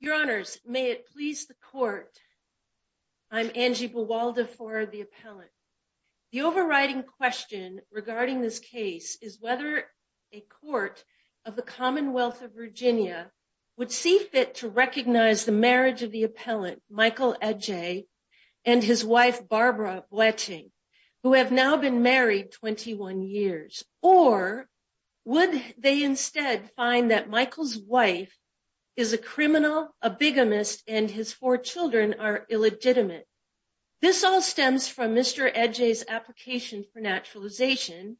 Your Honors, may it please the Court, I'm Angie Buwalda for the Appellant. The overriding question regarding this case is whether a Court of the Commonwealth of Virginia would see fit to recognize the marriage of the Appellant, Michael Adjei, and his wife, Barbara Bletching, who have now been married 21 years. Or would they instead find that Michael's wife is a criminal, a bigamist, and his four children are illegitimate? This all stems from Mr. Adjei's application for naturalization,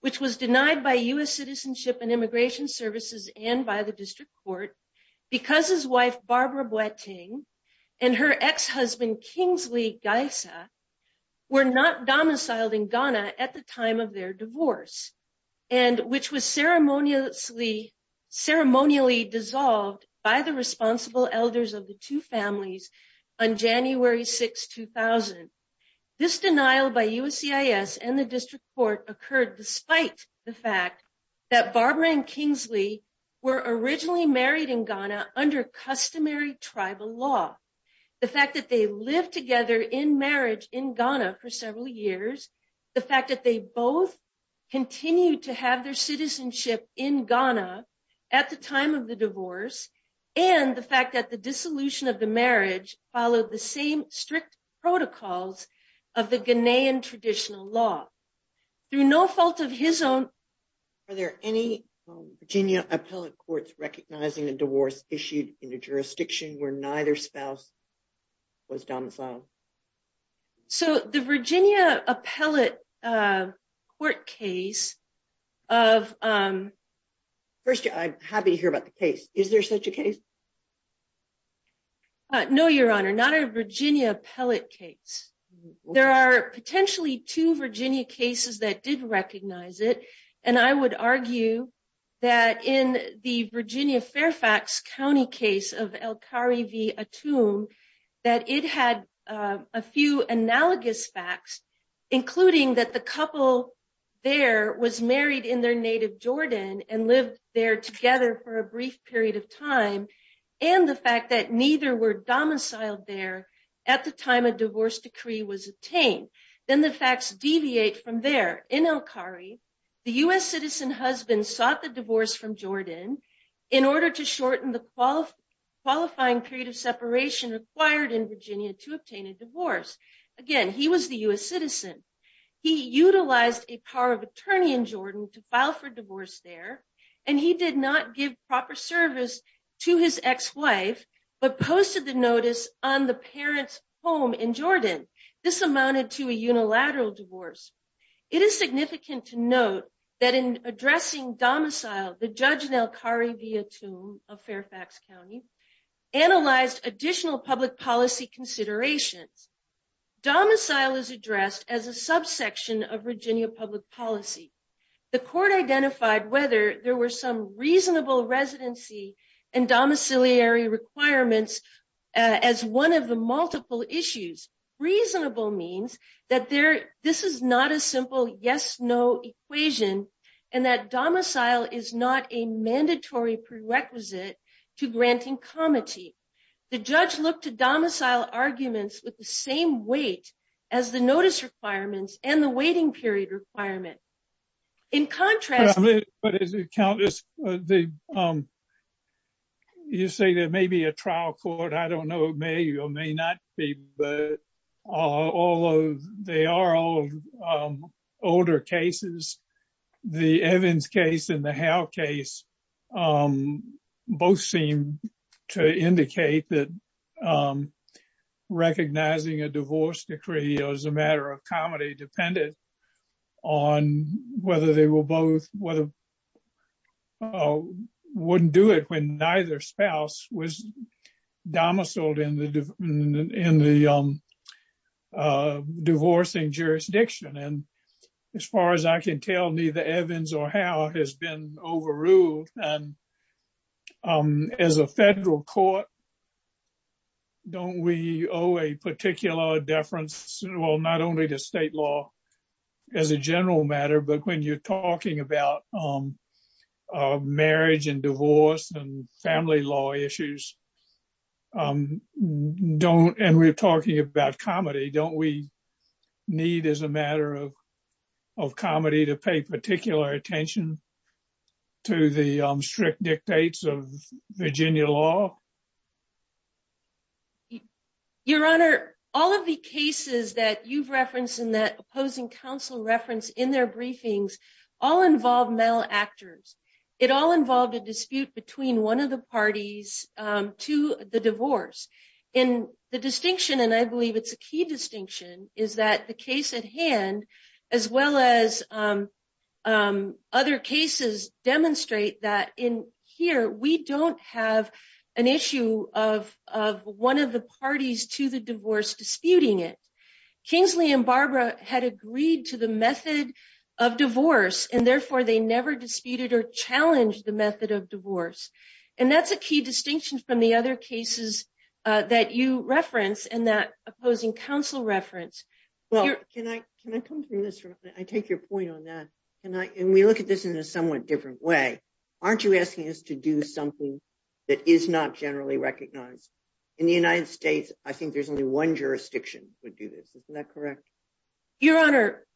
which was denied by U.S. Citizenship and Immigration Services and by the District Court because his wife, Barbara Bletching, and her ex-husband, Kingsley Geisa, were not domiciled in Ghana at the time of their divorce, and which was ceremonially dissolved by the responsible elders of the two families on January 6, 2000. This denial by USCIS and the District Court occurred despite the fact that Barbara and Kingsley were originally married in Ghana under customary tribal law. The fact that they lived together in marriage in Ghana for several years, the fact that they both continued to have their citizenship in Ghana at the time of the divorce, and the fact that the dissolution of the marriage followed the same strict protocols of the Ghanaian traditional law. Through no fault of his own, are there any Virginia Appellate Courts recognizing a divorce issued in a jurisdiction where neither spouse was domiciled? So the Virginia Appellate Court case of... First, I'm happy to hear about the case. Is there such a case? No, Your Honor, not a Virginia Appellate case. There are potentially two Virginia cases that did recognize it, and I would argue that in the Virginia Fairfax County case of Elkari v. Atum, that it had a few analogous facts, including that the couple there was married in their native Jordan and lived there together for a brief period of time, and the fact that neither were domiciled there at the time a divorce decree was obtained. Then the facts deviate from there. In Elkari, the U.S. citizen husband sought the divorce from Jordan in order to shorten the qualifying period of separation required in Virginia to obtain a divorce. Again, he was the U.S. citizen. He utilized a power of attorney in Jordan to file for divorce there, and he did not give proper service to his ex-wife, but posted the notice on the parents' home in Jordan. This amounted to a unilateral divorce. It is significant to note that in addressing domicile, the judge in Elkari v. Atum of Fairfax County analyzed additional public policy considerations. Domicile is addressed as a subsection of Virginia public policy. The court identified whether there were some reasonable residency and domiciliary requirements as one of the multiple issues. Reasonable means that this is not a simple yes-no equation and that domicile is not a mandatory prerequisite to granting comity. The judge looked to domicile arguments with the same weight as the notice requirements and the waiting period requirement. In contrast— But as you say, there may be a trial court. I don't know. It may or may not be, but they are all older cases. The Evans case and the Howe case both seem to indicate that recognizing a divorce decree as a matter of comity depended on whether they both wouldn't do it when neither spouse was domiciled in the divorcing jurisdiction. As far as I can tell, neither Evans or Howe has been overruled. And as a federal court, don't we owe a particular deference, well, not only to state law as a general matter, but when you're talking about marriage and divorce and family law issues, and we're talking about comity, don't we need as a matter of comity to pay particular attention to the strict dictates of Virginia law? Your Honor, all of the cases that you've referenced and that opposing counsel referenced in their briefings all involve male actors. It all involved a dispute between one of the parties to the divorce. And the distinction, and I believe it's a key distinction, is that the case at hand, as well as other cases, demonstrate that in here we don't have an issue of one of the parties to the divorce disputing it. Kingsley and Barbara had agreed to the method of divorce, and therefore they never disputed or challenged the method of divorce. And that's a key distinction from the other cases that you reference and that opposing counsel reference. Well, can I come to this? I take your point on that. And we look at this in a somewhat different way. Aren't you asking us to do something that is not generally recognized? In the United States, I think there's only one jurisdiction would do this. Isn't that correct? Your Honor,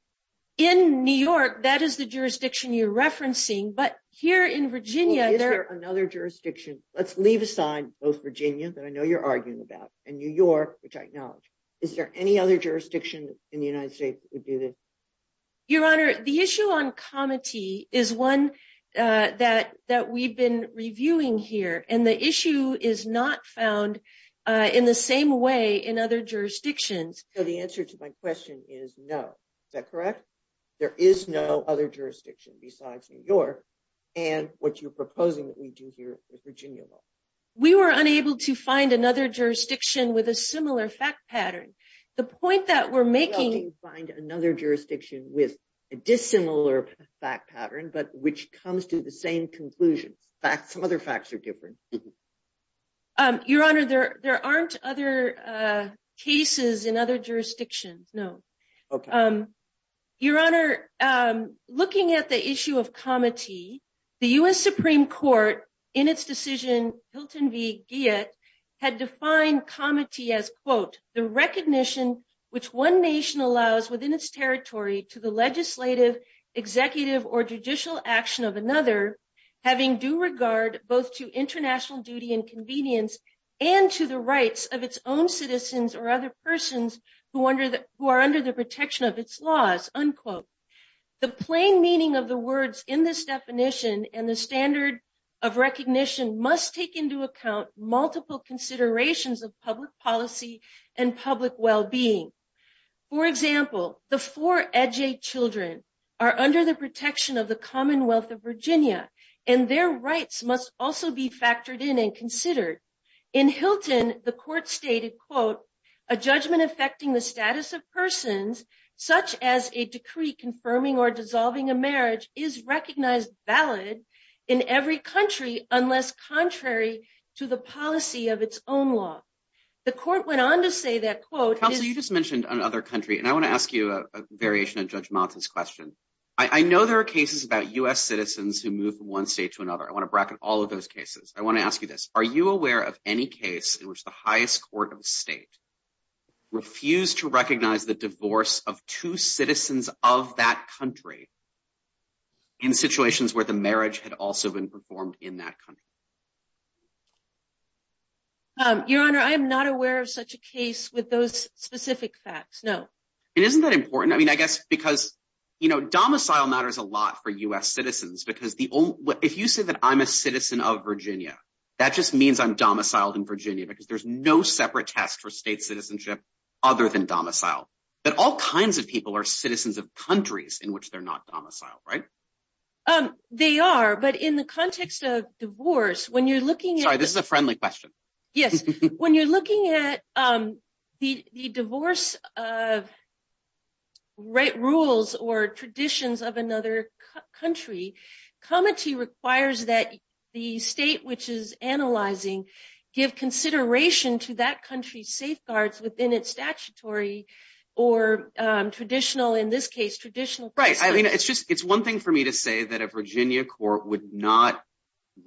in New York, that is the jurisdiction you're referencing. Well, is there another jurisdiction? Let's leave aside both Virginia, that I know you're arguing about, and New York, which I acknowledge. Is there any other jurisdiction in the United States that would do this? Your Honor, the issue on comity is one that we've been reviewing here, and the issue is not found in the same way in other jurisdictions. So the answer to my question is no. Is that correct? There is no other jurisdiction besides New York, and what you're proposing that we do here with Virginia law. We were unable to find another jurisdiction with a similar fact pattern. The point that we're making… Well, you find another jurisdiction with a dissimilar fact pattern, but which comes to the same conclusion. Some other facts are different. Your Honor, there aren't other cases in other jurisdictions, no. Your Honor, looking at the issue of comity, the U.S. Supreme Court, in its decision, Hilton v. Guyot, had defined comity as, quote, the recognition which one nation allows within its territory to the legislative, executive, or judicial action of another, having due regard both to international duty and convenience, and to the rights of its own citizens or other persons who are under the protection of its laws, unquote. The plain meaning of the words in this definition and the standard of recognition must take into account multiple considerations of public policy and public well-being. For example, the four Adjaye children are under the protection of the Commonwealth of Virginia, and their rights must also be factored in and considered. In Hilton, the court stated, quote, a judgment affecting the status of persons, such as a decree confirming or dissolving a marriage, is recognized valid in every country unless contrary to the policy of its own law. The court went on to say that, quote… Counsel, you just mentioned another country, and I want to ask you a variation of Judge Maltin's question. I know there are cases about U.S. citizens who moved from one state to another. I want to bracket all of those cases. I want to ask you this. Are you aware of any case in which the highest court of a state refused to recognize the divorce of two citizens of that country in situations where the marriage had also been performed in that country? Your Honor, I am not aware of such a case with those specific facts, no. And isn't that important? I mean, I guess because, you know, domicile matters a lot for U.S. citizens, because if you say that I'm a citizen of Virginia, that just means I'm domiciled in Virginia, because there's no separate test for state citizenship other than domicile. But all kinds of people are citizens of countries in which they're not domiciled, right? They are, but in the context of divorce, when you're looking at… Sorry, this is a friendly question. Yes. When you're looking at the divorce rules or traditions of another country, comity requires that the state which is analyzing give consideration to that country's safeguards within its statutory or traditional, in this case, traditional… Right. I mean, it's one thing for me to say that a Virginia court would not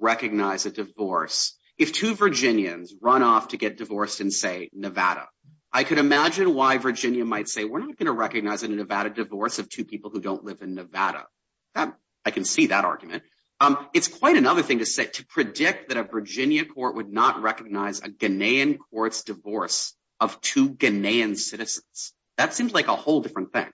recognize a divorce. If two Virginians run off to get divorced in, say, Nevada, I could imagine why Virginia might say, we're not going to recognize in a Nevada divorce of two people who don't live in Nevada. I can see that argument. It's quite another thing to say, to predict that a Virginia court would not recognize a Ghanaian court's divorce of two Ghanaian citizens. That seems like a whole different thing.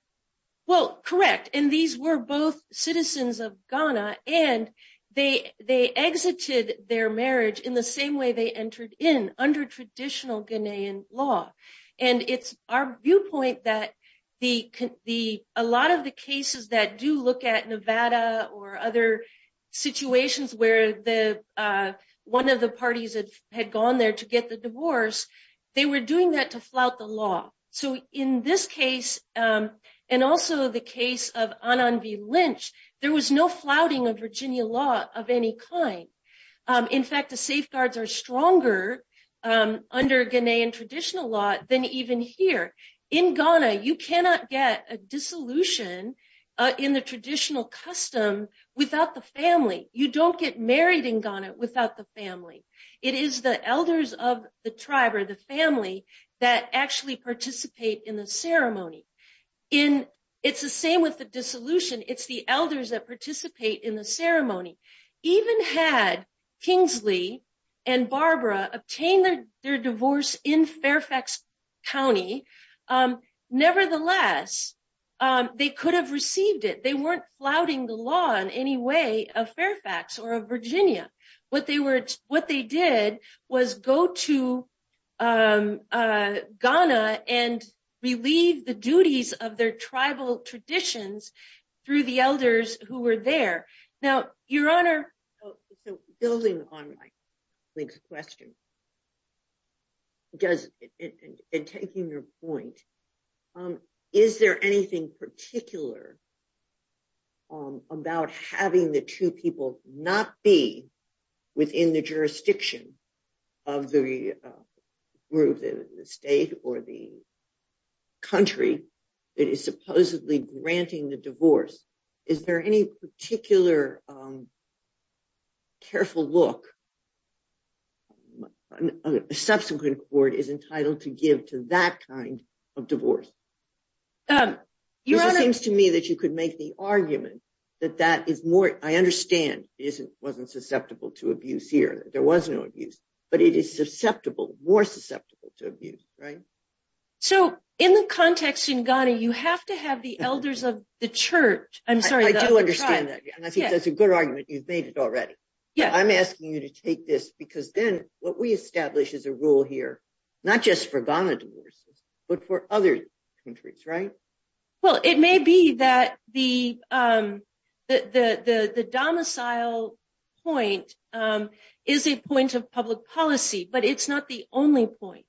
Well, correct. And these were both citizens of Ghana, and they exited their marriage in the same way they entered in, under traditional Ghanaian law. And it's our viewpoint that a lot of the cases that do look at Nevada or other situations where one of the parties had gone there to get the divorce, they were doing that to flout the law. So in this case, and also the case of Anand V. Lynch, there was no flouting of Virginia law of any kind. In fact, the safeguards are stronger under Ghanaian traditional law than even here. In Ghana, you cannot get a dissolution in the traditional custom without the family. You don't get married in Ghana without the family. It is the elders of the tribe or the family that actually participate in the ceremony. It's the same with the dissolution. It's the elders that participate in the ceremony. Even had Kingsley and Barbara obtain their divorce in Fairfax County, nevertheless, they could have received it. They weren't flouting the law in any way of Fairfax or of Virginia. What they did was go to Ghana and relieve the duties of their tribal traditions through the elders who were there. Now, Your Honor. So building on Mike's question and taking your point, is there anything particular about having the two people not be within the jurisdiction of the group, the state or the country that is supposedly granting the divorce? Is there any particular careful look a subsequent court is entitled to give to that kind of divorce? It seems to me that you could make the argument that that is more. I understand it wasn't susceptible to abuse here. There was no abuse, but it is susceptible, more susceptible to abuse, right? So in the context in Ghana, you have to have the elders of the church. I'm sorry. I do understand that. And I think that's a good argument. You've made it already. Yeah, I'm asking you to take this because then what we establish is a rule here, not just for Ghana divorces, but for other countries, right? Well, it may be that the domicile point is a point of public policy, but it's not the only point.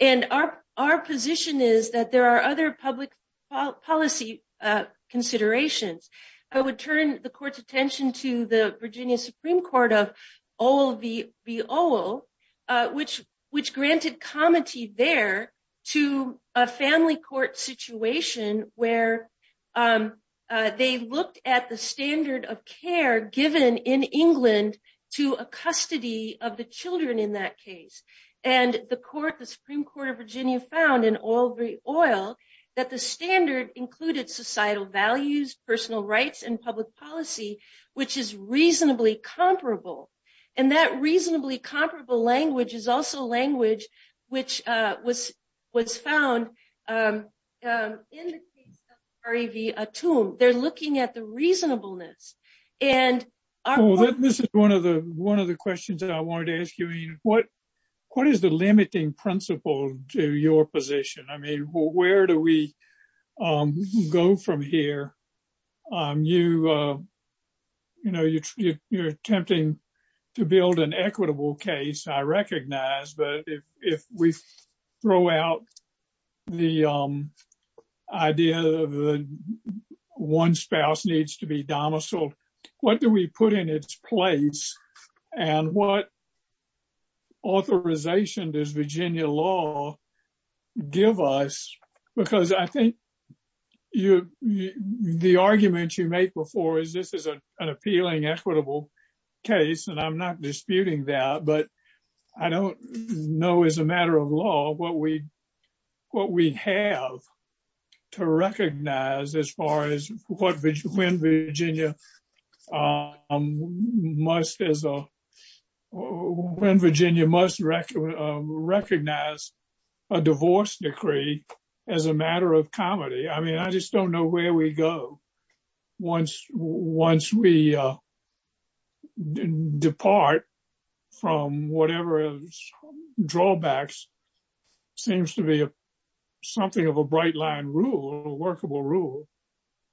And our position is that there are other public policy considerations. I would turn the court's attention to the Virginia Supreme Court of OVVO, which granted comity there to a family court situation where they looked at the standard of care given in England to a custody of the children in that case. And the Supreme Court of Virginia found in OVVO that the standard included societal values, personal rights, and public policy, which is reasonably comparable. And that reasonably comparable language is also language which was found in the case of REV Atum. They're looking at the reasonableness. And this is one of the one of the questions that I wanted to ask you. What what is the limiting principle to your position? I mean, where do we go from here? You know, you're attempting to build an equitable case, I recognize, but if we throw out the idea of one spouse needs to be domiciled, what do we put in its place? And what authorization does Virginia law give us? Because I think the argument you make before is this is an appealing, equitable case, and I'm not disputing that, but I don't know, as a matter of law, what we have to recognize as far as when Virginia must recognize a divorce decree. As a matter of comedy, I mean, I just don't know where we go once we depart from whatever drawbacks seems to be something of a bright line rule, workable rule.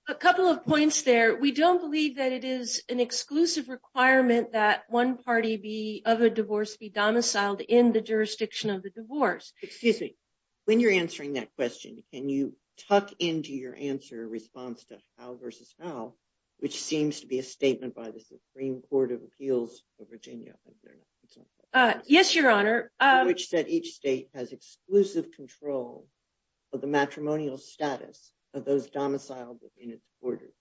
A couple of points there. We don't believe that it is an exclusive requirement that one party be of a divorce be domiciled in the jurisdiction of the divorce. When you're answering that question, can you talk into your answer response to how versus how, which seems to be a statement by the Supreme Court of Appeals of Virginia. Yes, Your Honor, which said each state has exclusive control of the matrimonial status of those domiciled in its borders.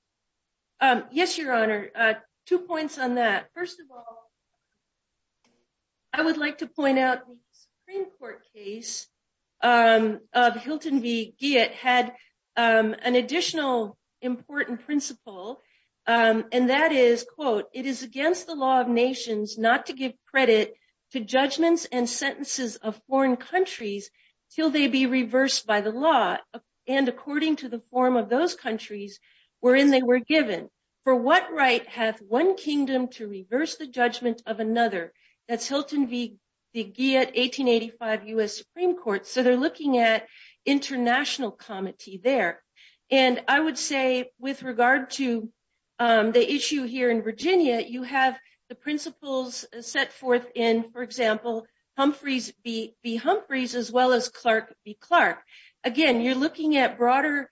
Yes, Your Honor. Two points on that. First of all, I would like to point out the Supreme Court case of Hilton v. Guyot had an additional important principle. And that is, quote, it is against the law of nations not to give credit to judgments and sentences of foreign countries till they be reversed by the law. And according to the form of those countries were in they were given for what right have one kingdom to reverse the judgment of another. That's Hilton v. Guyot 1885 U.S. Supreme Court. So they're looking at international comedy there. And I would say with regard to the issue here in Virginia, you have the principles set forth in, for example, Humphreys v. Humphreys as well as Clark v. Clark. Again, you're looking at broader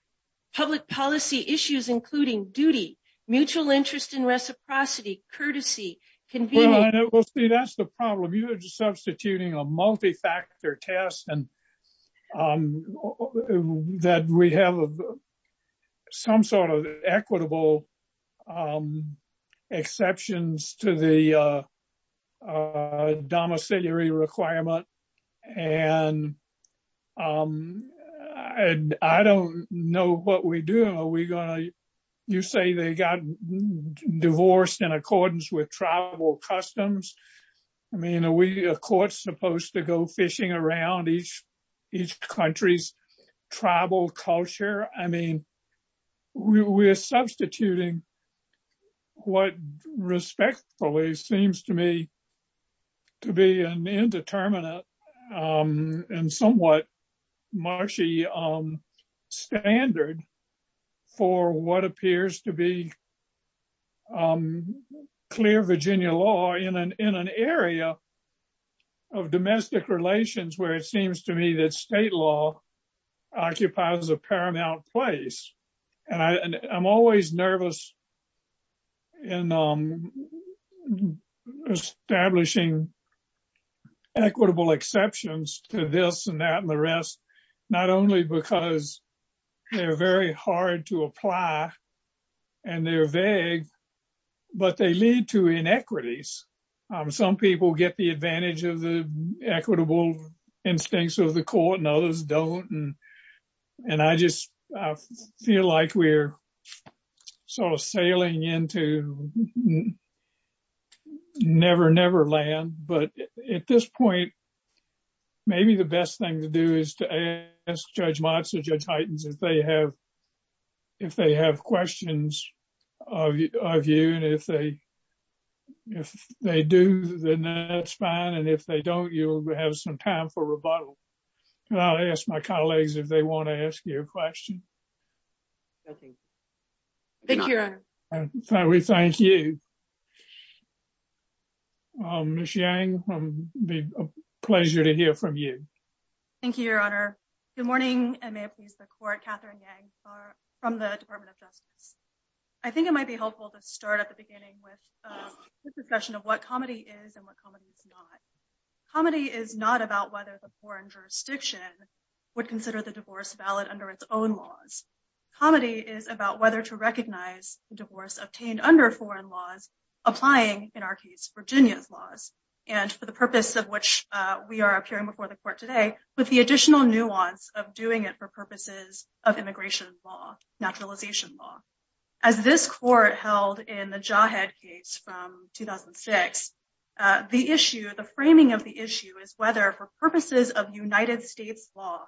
public policy issues, including duty, mutual interest in reciprocity, courtesy, convening. That's the problem. You're substituting a multi-factor test and that we have some sort of equitable exceptions to the domiciliary requirement. And I don't know what we do. Are we going to you say they got divorced in accordance with tribal customs? I mean, are we, of course, supposed to go fishing around each country's tribal culture? I mean, we are substituting what respectfully seems to me to be an indeterminate and somewhat marshy standard for what appears to be clear Virginia law in an area of domestic relations, where it seems to me that state law occupies a paramount place. And I'm always nervous in establishing equitable exceptions to this and that and the rest, not only because they're very hard to apply and they're vague, but they lead to inequities. Some people get the advantage of the equitable instincts of the court and others don't. And I just feel like we're sort of sailing into never, never land. But at this point, maybe the best thing to do is to ask Judge Motz or Judge Heitens if they have questions of you and if they do, then that's fine. And if they don't, you'll have some time for rebuttal. And I'll ask my colleagues if they want to ask you a question. Thank you, Your Honor. We thank you. Ms. Yang, a pleasure to hear from you. Thank you, Your Honor. Good morning, and may it please the court, Katherine Yang from the Department of Justice. I think it might be helpful to start at the beginning with the discussion of what comedy is and what comedy is not. Comedy is not about whether the foreign jurisdiction would consider the divorce valid under its own laws. Comedy is about whether to recognize the divorce obtained under foreign laws, applying, in our case, Virginia's laws, and for the purpose of which we are appearing before the court today, with the additional nuance of doing it for purposes of immigration law, naturalization law. As this court held in the Jawhead case from 2006, the framing of the issue is whether, for purposes of United States law,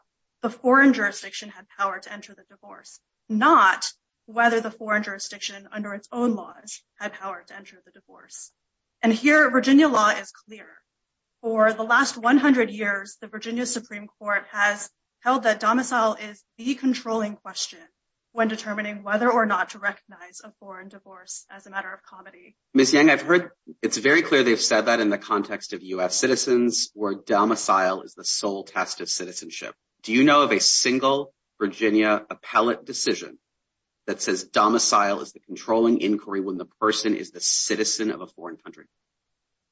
the foreign jurisdiction had power to enter the divorce, not whether the foreign jurisdiction under its own laws had power to enter the divorce. And here, Virginia law is clear. For the last 100 years, the Virginia Supreme Court has held that domicile is the controlling question when determining whether or not to recognize a foreign divorce as a matter of comedy. Ms. Yang, I've heard it's very clear they've said that in the context of U.S. citizens, where domicile is the sole test of citizenship. Do you know of a single Virginia appellate decision that says domicile is the controlling inquiry when the person is the citizen of a foreign country?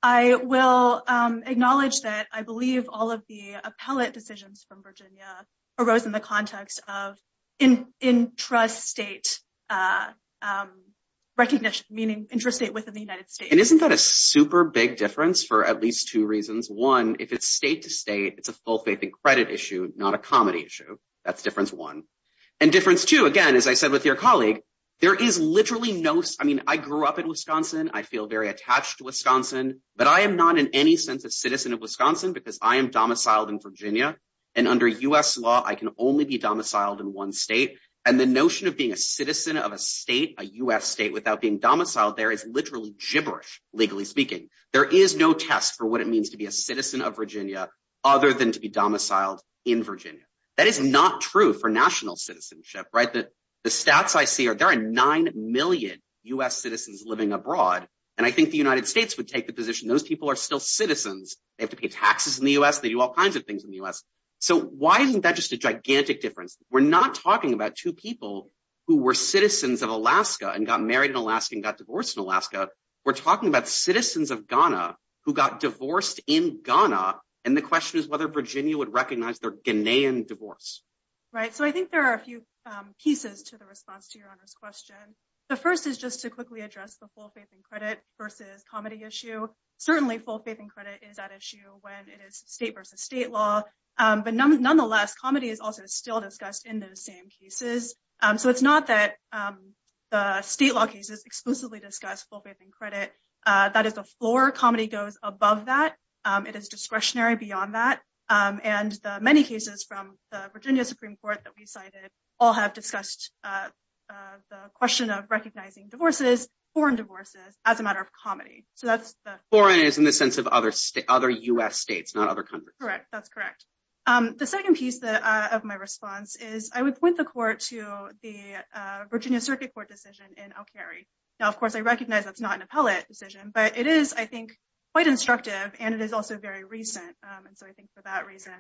I will acknowledge that I believe all of the appellate decisions from Virginia arose in the context of intrastate recognition, meaning intrastate within the United States. And isn't that a super big difference for at least two reasons? One, if it's state to state, it's a full faith and credit issue, not a comedy issue. That's difference one. And difference two, again, as I said with your colleague, there is literally no – I mean, I grew up in Wisconsin. I feel very attached to Wisconsin. But I am not in any sense a citizen of Wisconsin because I am domiciled in Virginia. And under U.S. law, I can only be domiciled in one state. And the notion of being a citizen of a state, a U.S. state, without being domiciled there is literally gibberish, legally speaking. There is no test for what it means to be a citizen of Virginia other than to be domiciled in Virginia. That is not true for national citizenship, right? The stats I see are there are 9 million U.S. citizens living abroad. And I think the United States would take the position those people are still citizens. They have to pay taxes in the U.S. They do all kinds of things in the U.S. So why isn't that just a gigantic difference? We're not talking about two people who were citizens of Alaska and got married in Alaska and got divorced in Alaska. We're talking about citizens of Ghana who got divorced in Ghana. And the question is whether Virginia would recognize their Ghanaian divorce. Right. So I think there are a few pieces to the response to your question. The first is just to quickly address the full faith and credit versus comedy issue. Certainly, full faith and credit is at issue when it is state versus state law. But nonetheless, comedy is also still discussed in those same cases. So it's not that the state law cases exclusively discuss full faith and credit. That is the floor. Comedy goes above that. It is discretionary beyond that. And many cases from the Virginia Supreme Court that we cited all have discussed the question of recognizing divorces, foreign divorces, as a matter of comedy. So that's the. Foreign is in the sense of other states, other U.S. states, not other countries. Correct. That's correct. The second piece of my response is I would point the court to the Virginia Circuit Court decision and I'll carry. Now, of course, I recognize that's not an appellate decision, but it is, I think, quite instructive. And it is also very recent. And so I think for that reason.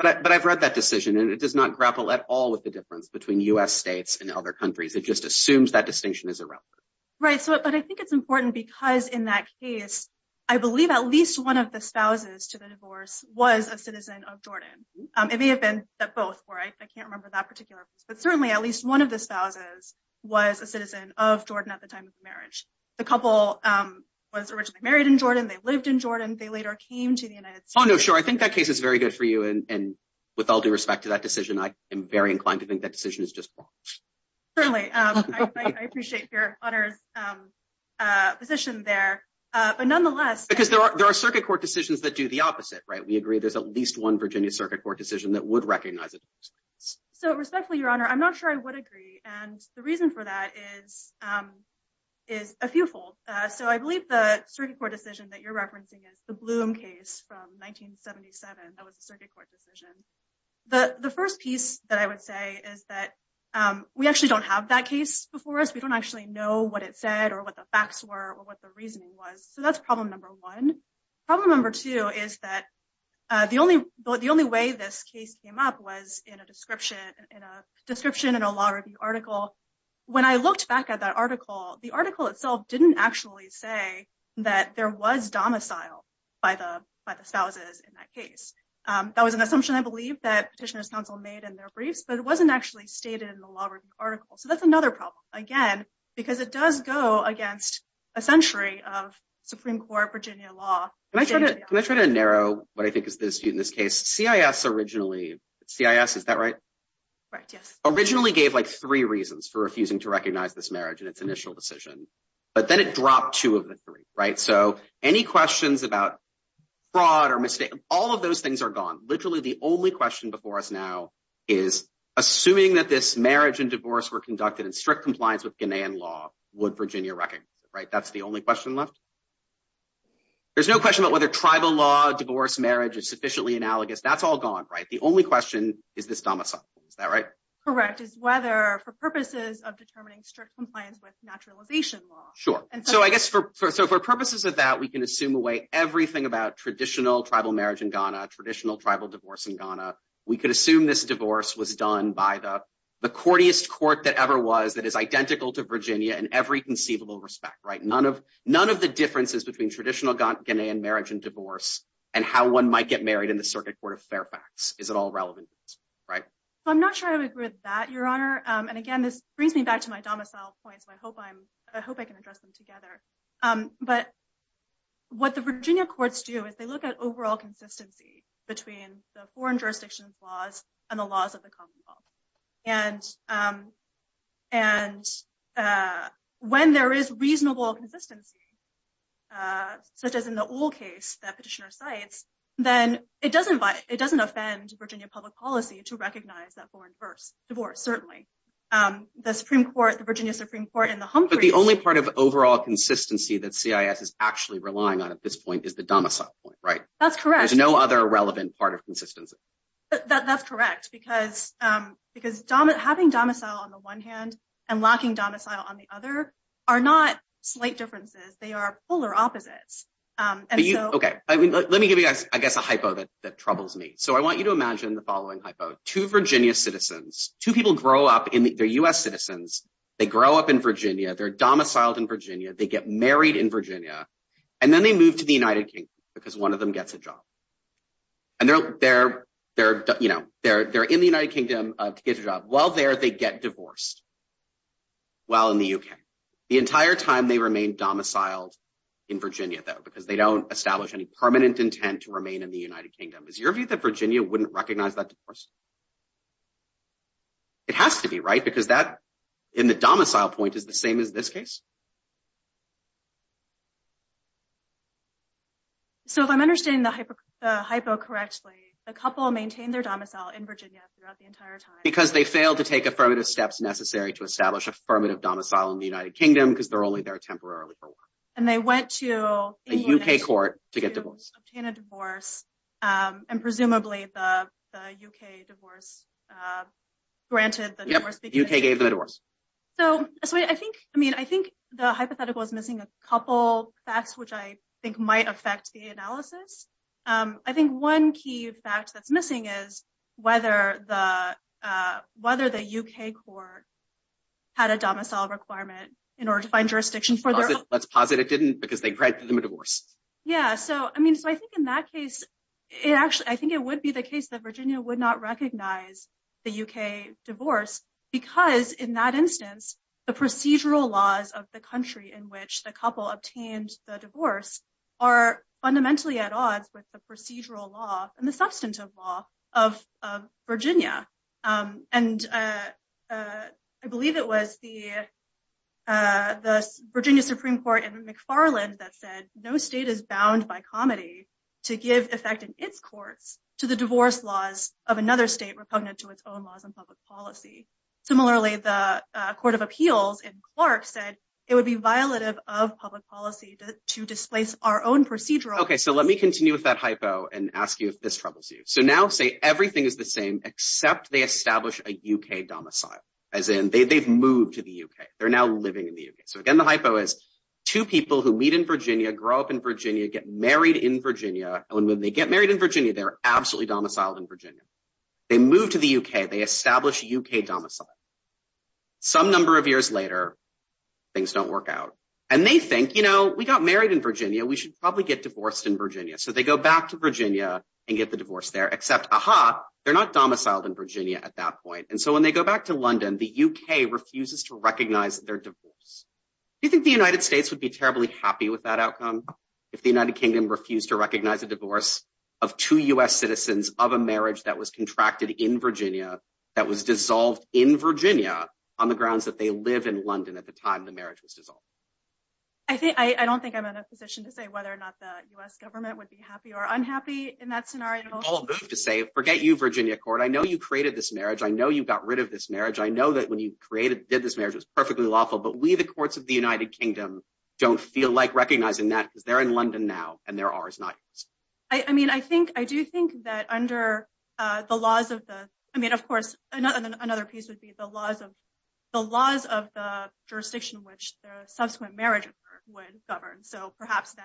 But I've read that decision and it does not grapple at all with the difference between U.S. states and other countries. It just assumes that distinction is irrelevant. Right. It may have been that both were right. I can't remember that particular. But certainly at least one of the spouses was a citizen of Jordan at the time of marriage. The couple was originally married in Jordan. They lived in Jordan. They later came to the United States. Oh, no. Sure. I think that case is very good for you. And with all due respect to that decision, I am very inclined to think that decision is just. Certainly, I appreciate your honor's position there. But nonetheless, because there are there are circuit court decisions that do the opposite. Right. We agree there's at least one Virginia Circuit Court decision that would recognize it. So respectfully, your honor, I'm not sure I would agree. And the reason for that is is a few fold. So I believe the circuit court decision that you're referencing is the Bloom case from 1977. That was a circuit court decision. The first piece that I would say is that we actually don't have that case before us. We don't actually know what it said or what the facts were or what the reasoning was. So that's problem number one. Problem number two is that the only the only way this case came up was in a description and a description and a law review article. When I looked back at that article, the article itself didn't actually say that there was domicile by the by the spouses in that case. That was an assumption, I believe, that petitioners counsel made in their briefs, but it wasn't actually stated in the law review article. So that's another problem, again, because it does go against a century of Supreme Court Virginia law. Can I try to narrow what I think is the dispute in this case? C.I.S. originally C.I.S. Is that right? Right. Yes. Originally gave like three reasons for refusing to recognize this marriage in its initial decision. But then it dropped two of the three. Right. So any questions about fraud or mistake? All of those things are gone. Literally, the only question before us now is assuming that this marriage and divorce were conducted in strict compliance with Ghanaian law, would Virginia recognize it? Right. That's the only question left. There's no question about whether tribal law, divorce, marriage is sufficiently analogous. That's all gone. Right. The only question is this domicile. Is that right? Correct. Is whether for purposes of determining strict compliance with naturalization law. Sure. And so I guess for purposes of that, we can assume away everything about traditional tribal marriage in Ghana, traditional tribal divorce in Ghana. We could assume this divorce was done by the courtiest court that ever was that is identical to Virginia in every conceivable respect. Right. None of none of the differences between traditional Ghanaian marriage and divorce and how one might get married in the Circuit Court of Fairfax. Is it all relevant? Right. I'm not sure I would agree with that, Your Honor. And again, this brings me back to my domicile points. I hope I'm I hope I can address them together. But what the Virginia courts do is they look at overall consistency between the foreign jurisdictions laws and the laws of the Commonwealth. And and when there is reasonable consistency, such as in the old case that petitioner cites, then it doesn't it doesn't offend Virginia public policy to recognize that foreign first divorce. Certainly, the Supreme Court, the Virginia Supreme Court in the home. But the only part of overall consistency that CIS is actually relying on at this point is the domicile point. Right. That's correct. There's no other relevant part of consistency. That's correct, because because having domicile on the one hand and locking domicile on the other are not slight differences. They are polar opposites. OK, let me give you, I guess, a hypo that that troubles me. So I want you to imagine the following hypo to Virginia citizens, two people grow up in the U.S. citizens. They grow up in Virginia, they're domiciled in Virginia, they get married in Virginia, and then they move to the United Kingdom because one of them gets a job. And they're there, you know, they're there in the United Kingdom to get a job while there, they get divorced. While in the UK, the entire time they remain domiciled in Virginia, though, because they don't establish any permanent intent to remain in the United Kingdom, is your view that Virginia wouldn't recognize that. Of course. It has to be right, because that in the domicile point is the same as this case. So if I'm understanding the hypo correctly, a couple maintain their domicile in Virginia throughout the entire time because they failed to take affirmative steps necessary to establish affirmative domicile in the United Kingdom because they're only there temporarily. And they went to a U.K. court to get a divorce and presumably the U.K. divorce granted the divorce. So I think I mean, I think the hypothetical is missing a couple facts, which I think might affect the analysis. I think one key fact that's missing is whether the whether the U.K. court had a domicile requirement in order to find jurisdiction for their. Let's posit it didn't because they granted them a divorce. Yeah. So, I mean, so I think in that case, it actually I think it would be the case that Virginia would not recognize the U.K. divorce because in that instance, the procedural laws of the country in which the couple obtained the divorce are fundamentally at odds with the procedural law and the substantive law of Virginia. And I believe it was the the Virginia Supreme Court in McFarland that said no state is bound by comedy to give effect in its courts to the divorce laws of another state repugnant to its own laws and public policy. Similarly, the Court of Appeals in Clark said it would be violative of public policy to displace our own procedural. OK, so let me continue with that hypo and ask you if this troubles you. So now say everything is the same except they establish a U.K. domicile as in they've moved to the U.K. They're now living in the U.K. So again, the hypo is two people who meet in Virginia, grow up in Virginia, get married in Virginia. And when they get married in Virginia, they're absolutely domiciled in Virginia. They move to the U.K. They establish U.K. domicile. Some number of years later, things don't work out. And they think, you know, we got married in Virginia. We should probably get divorced in Virginia. So they go back to Virginia and get the divorce there, except they're not domiciled in Virginia at that point. And so when they go back to London, the U.K. refuses to recognize their divorce. Do you think the United States would be terribly happy with that outcome if the United Kingdom refused to recognize a divorce of two U.S. on the grounds that they live in London at the time the marriage was dissolved? I don't think I'm in a position to say whether or not the U.S. government would be happy or unhappy in that scenario. Forget you, Virginia court. I know you created this marriage. I know you got rid of this marriage. I know that when you did this marriage, it was perfectly lawful. But we, the courts of the United Kingdom, don't feel like recognizing that because they're in London now and they're ours, not yours. I mean, I think I do think that under the laws of the I mean, of course, another another piece would be the laws of the laws of the jurisdiction, which the subsequent marriage would govern. So perhaps.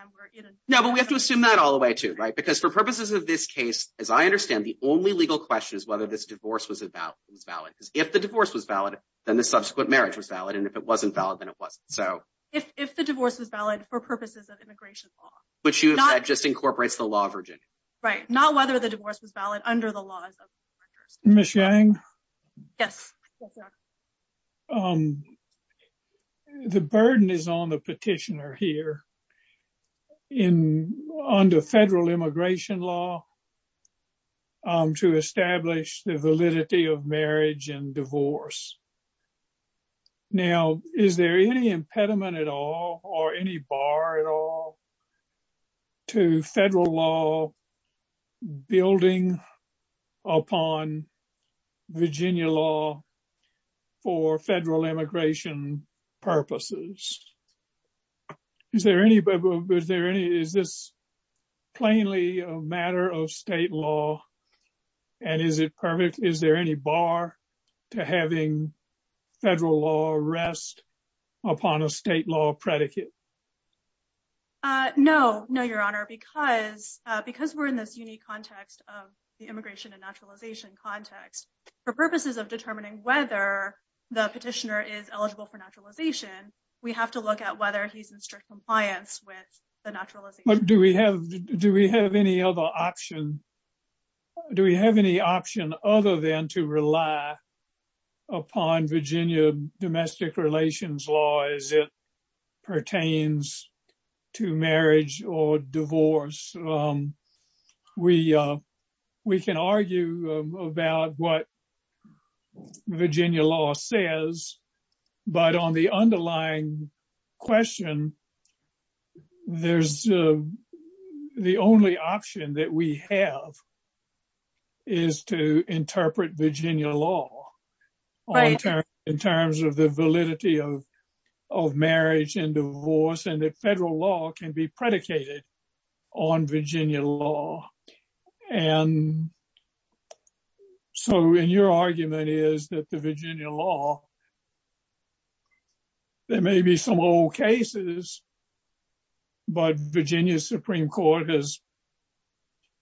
No, but we have to assume that all the way to. Right. Because for purposes of this case, as I understand, the only legal question is whether this divorce was about was valid. If the divorce was valid, then the subsequent marriage was valid. And if it wasn't valid, then it wasn't. So if the divorce is valid for purposes of immigration law, which you have just incorporates the law, Virginia. Right. Not whether the divorce was valid under the laws of Michigan. Yes. The burden is on the petitioner here in under federal immigration law. To establish the validity of marriage and divorce. Now, is there any impediment at all or any bar at all to federal law building upon Virginia law for federal immigration purposes? Is there any is there any is this plainly a matter of state law? And is it perfect? Is there any bar to having federal law rest upon a state law predicate? No, no, Your Honor, because because we're in this unique context of the immigration and naturalization context for purposes of determining whether the petitioner is eligible for naturalization, we have to look at whether he's in strict compliance with the natural. Do we have do we have any other option? Do we have any option other than to rely upon Virginia domestic relations law as it pertains to marriage or divorce? We, we can argue about what Virginia law says, but on the underlying question, there's the only option that we have is to interpret Virginia law. In terms of the validity of of marriage and divorce and the federal law can be predicated on Virginia law. And so in your argument is that the Virginia law. There may be some old cases, but Virginia Supreme Court has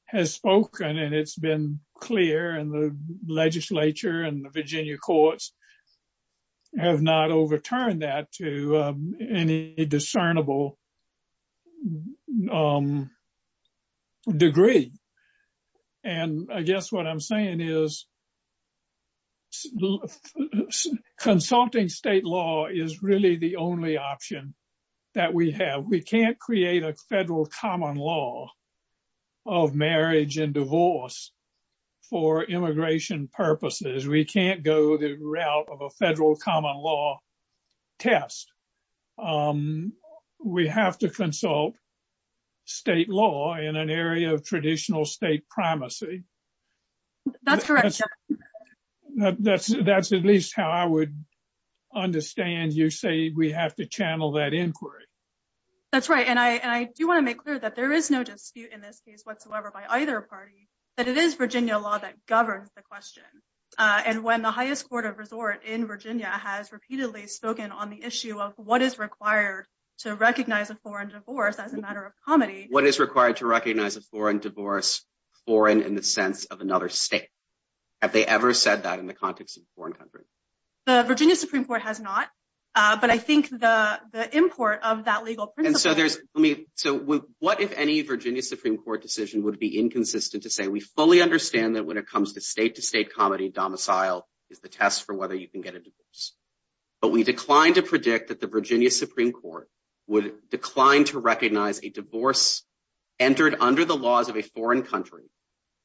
has spoken and it's been clear and the legislature and the Virginia courts have not overturned that to any discernible degree. And I guess what I'm saying is consulting state law is really the only option that we have. We can't create a federal common law of marriage and divorce for immigration purposes. We can't go the route of a federal common law test. We have to consult state law in an area of traditional state primacy. That's correct. That's, that's at least how I would understand you say we have to channel that inquiry. That's right. And I, and I do want to make clear that there is no dispute in this case whatsoever by either party that it is Virginia law that governs the question. And when the highest court of resort in Virginia has repeatedly spoken on the issue of what is required to recognize a foreign divorce as a matter of comedy, what is required to recognize a foreign divorce foreign in the sense of another state. Have they ever said that in the context of foreign countries. The Virginia Supreme Court has not, but I think the import of that legal. And so there's me. So what if any Virginia Supreme Court decision would be inconsistent to say we fully understand that when it comes to state to state comedy domicile is the test for whether you can get a divorce. But we declined to predict that the Virginia Supreme Court would decline to recognize a divorce entered under the laws of a foreign country.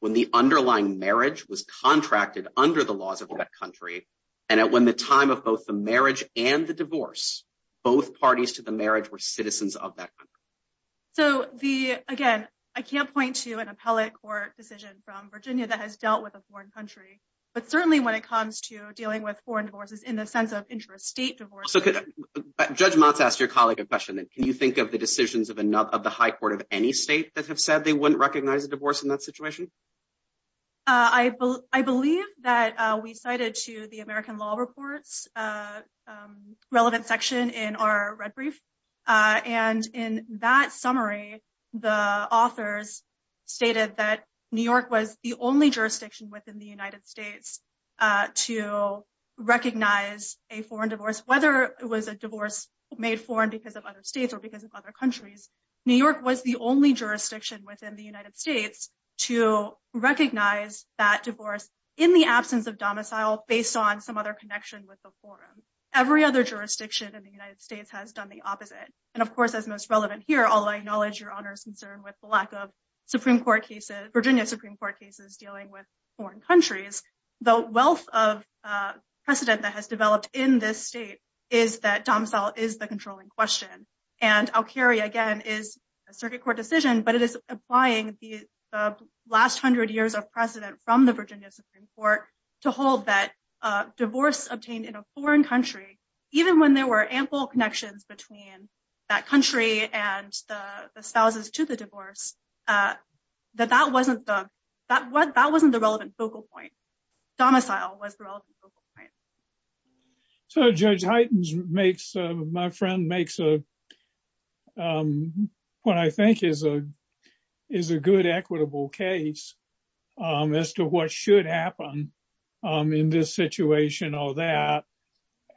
When the underlying marriage was contracted under the laws of that country. And when the time of both the marriage and the divorce, both parties to the marriage were citizens of that. So, the, again, I can't point to an appellate court decision from Virginia that has dealt with a foreign country, but certainly when it comes to dealing with foreign divorces in the sense of interest state divorce. Judge months asked your colleague a question that can you think of the decisions of another of the high court of any state that have said they wouldn't recognize a divorce in that situation. I believe that we cited to the American law reports relevant section in our red brief. And in that summary, the authors stated that New York was the only jurisdiction within the United States to recognize a foreign divorce, whether it was a divorce made foreign because of other states or because of other countries. New York was the only jurisdiction within the United States to recognize that divorce in the absence of domicile based on some other connection with the forum. Every other jurisdiction in the United States has done the opposite. And of course, as most relevant here all I acknowledge your honors concern with the lack of Supreme Court cases, Virginia Supreme Court cases dealing with foreign countries. The wealth of precedent that has developed in this state is that domicile is the controlling question, and I'll carry again is a circuit court decision but it is applying the last hundred years of precedent from the Virginia Supreme Court to hold that divorce obtained in a foreign country, even when there were ample connections between that country and the spouses to the divorce. That that wasn't that wasn't that wasn't the relevant focal point domicile was the right. So Judge items makes my friend makes a point I think is a is a good equitable case as to what should happen in this situation all that.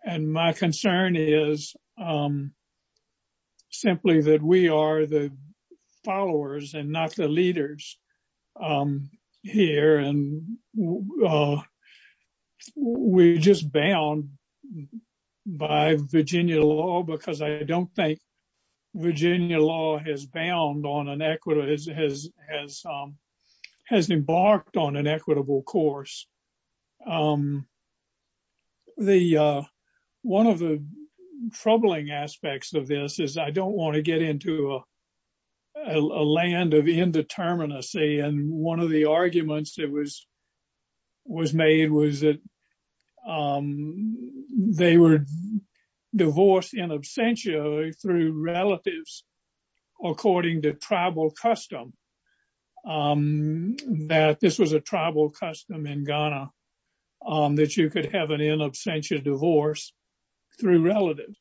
And my concern is One of the troubling aspects of this is I don't want to get into a land of indeterminacy and one of the arguments that was was made was that they were divorced in absentia through relatives, according to tribal custom That this was a tribal custom in Ghana on that you could have an in absentia divorce through relative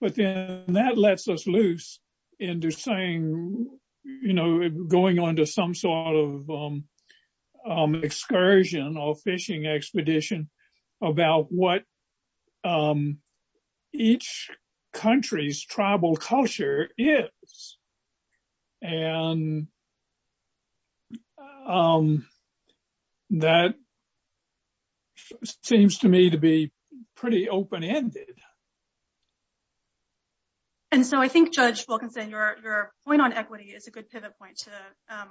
within that lets us loose into saying, you know, going on to some sort of excursion or fishing expedition about what Each country's tribal culture is And That Seems to me to be pretty open ended. And so I think judge will consider your point on equity is a good pivot point to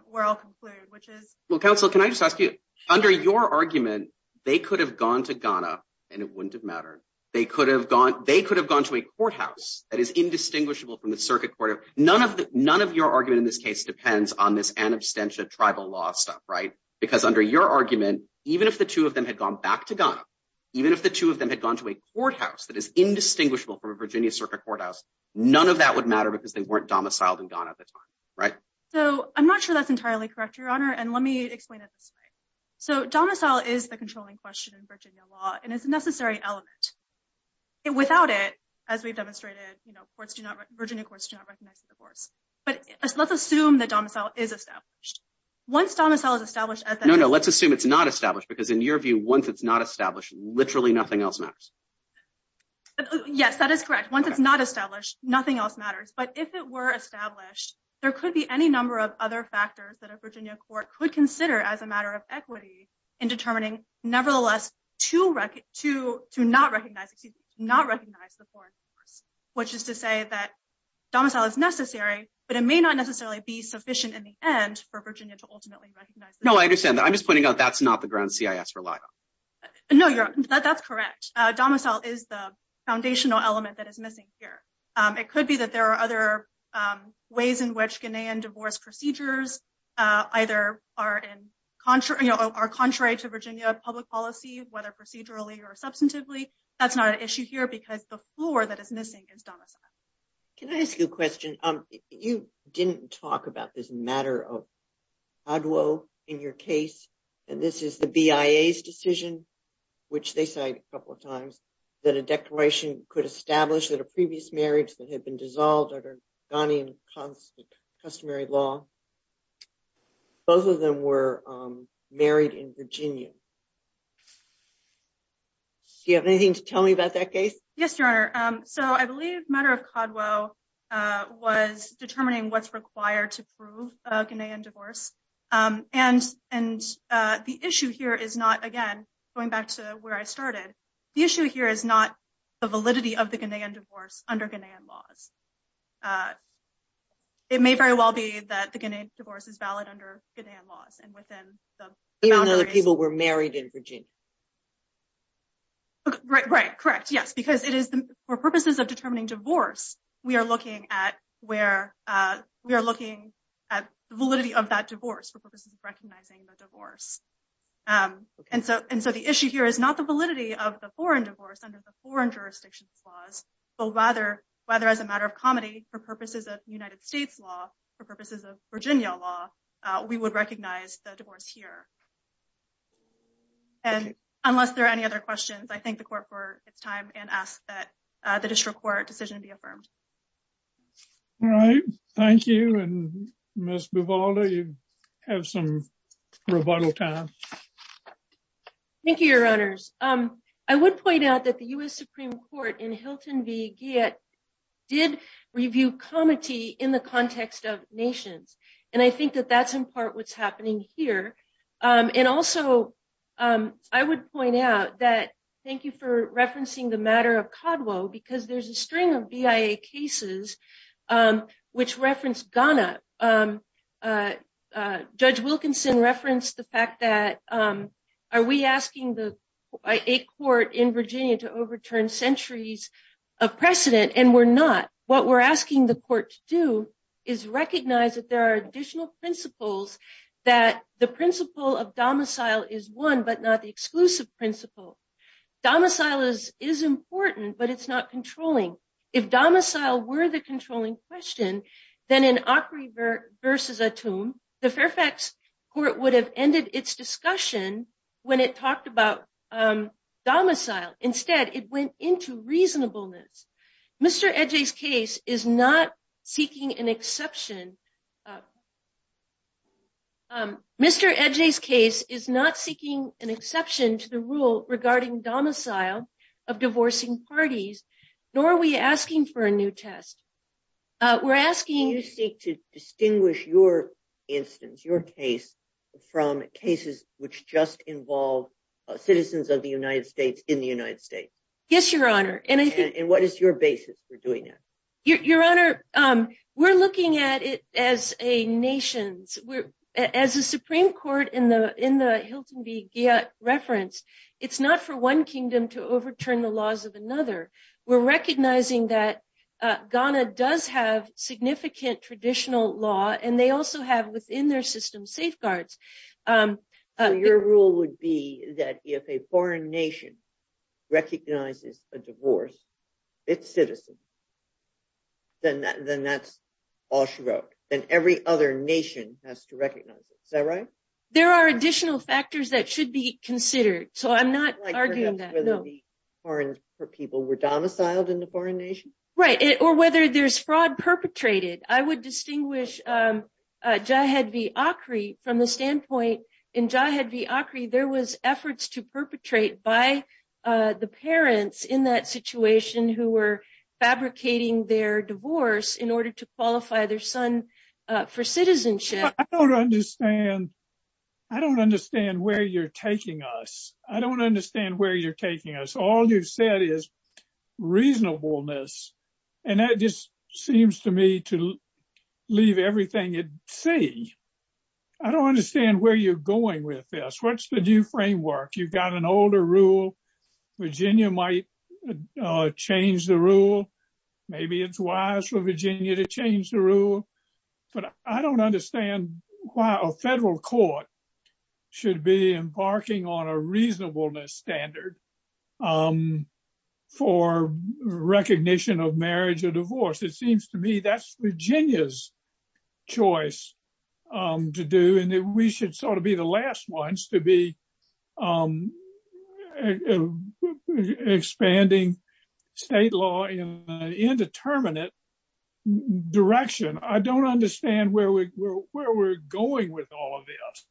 where I'll conclude, which is Well, counsel, can I just ask you under your argument, they could have gone to Ghana, and it wouldn't have mattered. They could have gone, they could have gone to a courthouse that is indistinguishable from the circuit court of none of the none of your argument in this case depends on this an absentia tribal law stuff right because under your argument, even if the two of them had gone back to Ghana. Even if the two of them had gone to a courthouse that is indistinguishable from a Virginia circuit courthouse. None of that would matter because they weren't domiciled and gone at the time. Right. So I'm not sure that's entirely correct, your honor. And let me explain it this way. So domicile is the controlling question in Virginia law and it's a necessary element. Yes, that is correct. Once it's not established, nothing else matters. But if it were established, there could be any number of other factors that a Virginia court could consider as a matter of equity in determining, nevertheless, to record to to not recognize the divorce. Which is to say that domicile is necessary, but it may not necessarily be sufficient in the end for Virginia to ultimately recognize. No, I understand that. I'm just pointing out that's not the ground CIS rely on. No, that's correct. Domicile is the foundational element that is missing here. It could be that there are other ways in which Ghanaian divorce procedures either are in concert are contrary to Virginia public policy, whether procedurally or substantively. That's not an issue here because the floor that is missing is domicile. Can I ask you a question? You didn't talk about this matter of Adwo in your case. And this is the BIA's decision, which they cite a couple of times that a declaration could establish that a previous marriage that had been dissolved under Ghanaian customary law. Both of them were married in Virginia. Do you have anything to tell me about that case? Yes, your honor. So I believe matter of Adwo was determining what's required to prove a Ghanaian divorce. And, and the issue here is not again, going back to where I started. The issue here is not the validity of the Ghanaian divorce under Ghanaian laws. It may very well be that the Ghanaian divorce is valid under Ghanaian laws and within the boundaries. Even though the people were married in Virginia. Right, right. Correct. Yes, because it is for purposes of determining divorce. We are looking at where we are looking at the validity of that divorce for purposes of recognizing the divorce. And so, and so the issue here is not the validity of the foreign divorce under the foreign jurisdictions laws, but rather, whether as a matter of comedy for purposes of United States law for purposes of Virginia law, we would recognize the divorce here. And unless there are any other questions, I think the court for its time and ask that the district court decision be affirmed. All right. Thank you. And most of all, you have some rebuttal time. Thank you, your honors. Um, I would point out that the US Supreme Court in Hilton be get did review comedy in the context of nations. And I think that that's in part what's happening here. And also, I would point out that. Thank you for referencing the matter of Codwell because there's a string of VA cases, which reference Ghana. Judge Wilkinson referenced the fact that are we asking the court in Virginia to overturn centuries of precedent and we're not what we're asking the court to do is recognize that there are additional principles that the principle of domicile is one but not the exclusive principle. Domicile is is important, but it's not controlling. If domicile were the controlling question, then an awkward versus a tomb, the Fairfax court would have ended its discussion when it talked about domicile instead it went into reasonableness. Mr edges case is not seeking an exception. Mr edges case is not seeking an exception to the rule regarding domicile of divorcing parties, nor we asking for a new test. We're asking you to seek to distinguish your instance your case from cases, which just involve citizens of the United States in the United States. Yes, Your Honor, and I think what is your basis for doing it. Your Honor. We're looking at it as a nation's we're as a Supreme Court in the in the Hilton be referenced. It's not for one kingdom to overturn the laws of another. We're recognizing that Ghana does have significant traditional law and they also have within their system safeguards. Your rule would be that if a foreign nation recognizes a divorce. It's citizen. Then that then that's all she wrote, then every other nation has to recognize it. Is that right? There are additional factors that should be considered. So I'm not arguing that. For people were domiciled in the foreign nation, right, or whether there's fraud perpetrated, I would distinguish. Jihad V. Acri from the standpoint in Jihad V. Acri there was efforts to perpetrate by the parents in that situation who were fabricating their divorce in order to qualify their son for citizenship. I don't understand. I don't understand where you're taking us. I don't understand where you're taking us. All you've said is reasonableness. And that just seems to me to leave everything at sea. I don't understand where you're going with this. What's the new framework. You've got an older rule. Virginia might change the rule. Maybe it's wise for Virginia to change the rule, but I don't understand why a federal court should be embarking on a reasonableness standard. For recognition of marriage or divorce. It seems to me that's Virginia's choice to do and we should sort of be the last ones to be expanding state law in an indeterminate direction. I don't understand where we're going with all of this.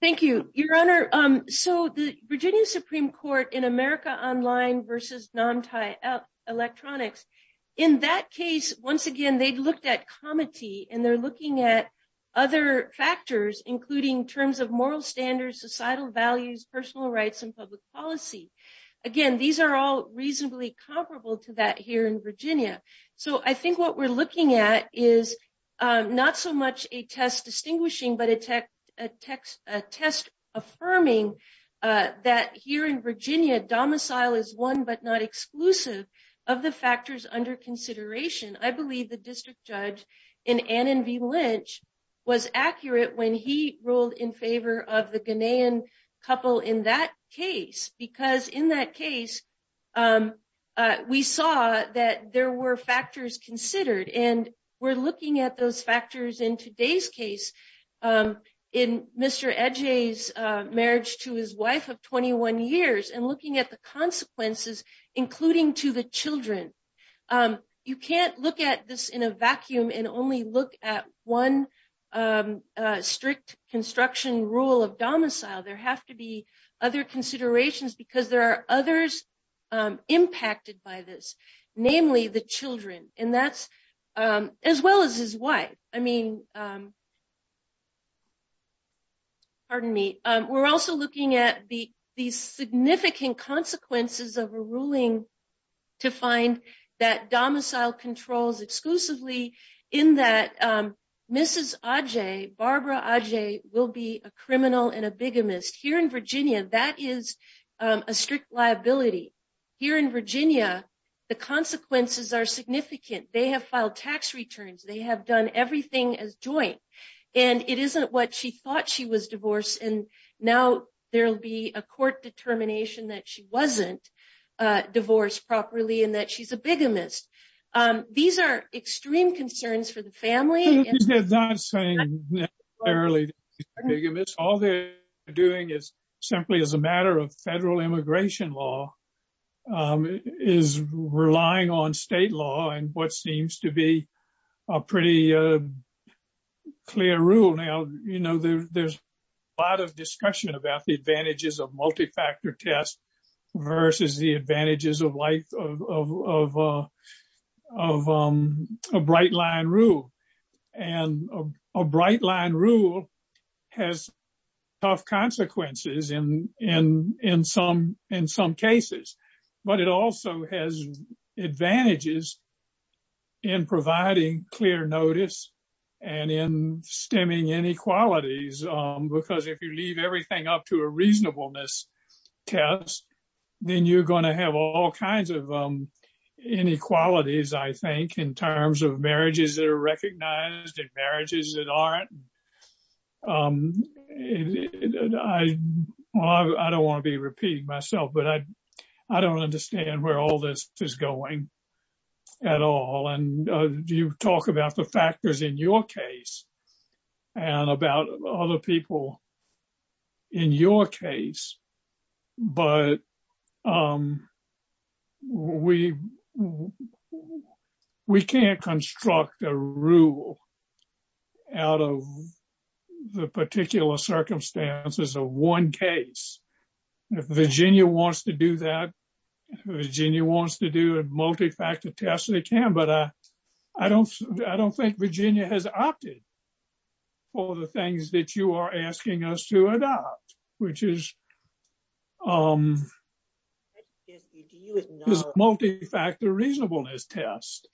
Thank you, Your Honor. So the Virginia Supreme Court in America Online versus Namtai Electronics. In that case, once again, they looked at comity and they're looking at other factors, including terms of moral standards, societal values, personal rights and public policy. Again, these are all reasonably comparable to that here in Virginia. So I think what we're looking at is not so much a test distinguishing, but a test affirming that here in Virginia, domicile is one but not exclusive of the factors under consideration. I believe the district judge in Annan v. Lynch was accurate when he ruled in favor of the Ghanaian couple in that case, because in that case, we saw that there were factors considered and we're looking at those factors in today's case. In Mr. Ege's marriage to his wife of 21 years and looking at the consequences, including to the children. You can't look at this in a vacuum and only look at one strict construction rule of domicile. There have to be other considerations because there are others impacted by this, namely the children, as well as his wife. Pardon me. We're also looking at the significant consequences of a ruling to find that domicile controls exclusively in that Mrs. Ege, Barbara Ege, will be a criminal and a bigamist. Here in Virginia, that is a strict liability. Here in Virginia, the consequences are significant. They have filed tax returns, they have done everything as joint, and it isn't what she thought she was divorced and now there'll be a court determination that she wasn't divorced properly and that she's a bigamist. These are extreme concerns for the family. They're not saying necessarily that she's a bigamist. All they're doing is simply as a matter of federal immigration law, is relying on state law and what seems to be a pretty clear rule. Now, you know, there's a lot of discussion about the advantages of multifactor tests versus the advantages of a bright line rule. And a bright line rule has tough consequences in some cases, but it also has advantages in providing clear notice and in stemming inequalities, because if you leave everything up to a reasonableness test, then you're going to have all kinds of inequalities, I think, in terms of marriages that are recognized and marriages that aren't. I don't want to be repeating myself, but I don't understand where all this is going at all. And you talk about the factors in your case and about other people in your case. But we can't construct a rule out of the particular circumstances of one case. If Virginia wants to do that, Virginia wants to do a multifactor test, they can, but I don't think Virginia has opted for the things that you are asking us to adopt, which is multifactor reasonableness test.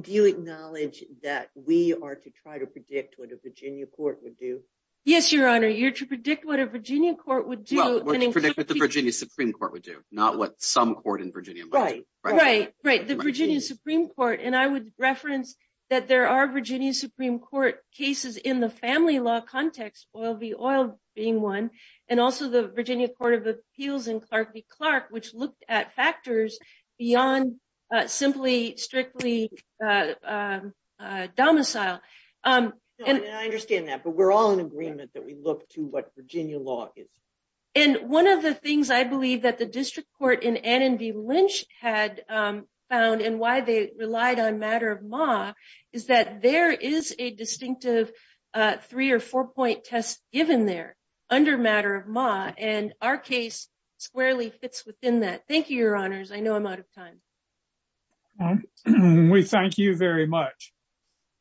Do you acknowledge that we are to try to predict what a Virginia court would do? Yes, Your Honor, you're to predict what a Virginia court would do. What to predict what the Virginia Supreme Court would do, not what some court in Virginia might do. Right, right. The Virginia Supreme Court, and I would reference that there are Virginia Supreme Court cases in the family law context, Oil v. Oil being one, and also the Virginia Court of Appeals and Clark v. Clark, which looked at factors beyond simply, strictly domicile. I understand that, but we're all in agreement that we look to what Virginia law is. And one of the things I believe that the district court in Annan v. Lynch had found and why they relied on matter of ma is that there is a distinctive three or four point test given there under matter of ma, and our case squarely fits within that. Thank you, Your Honors. I know I'm out of time. We thank you very much.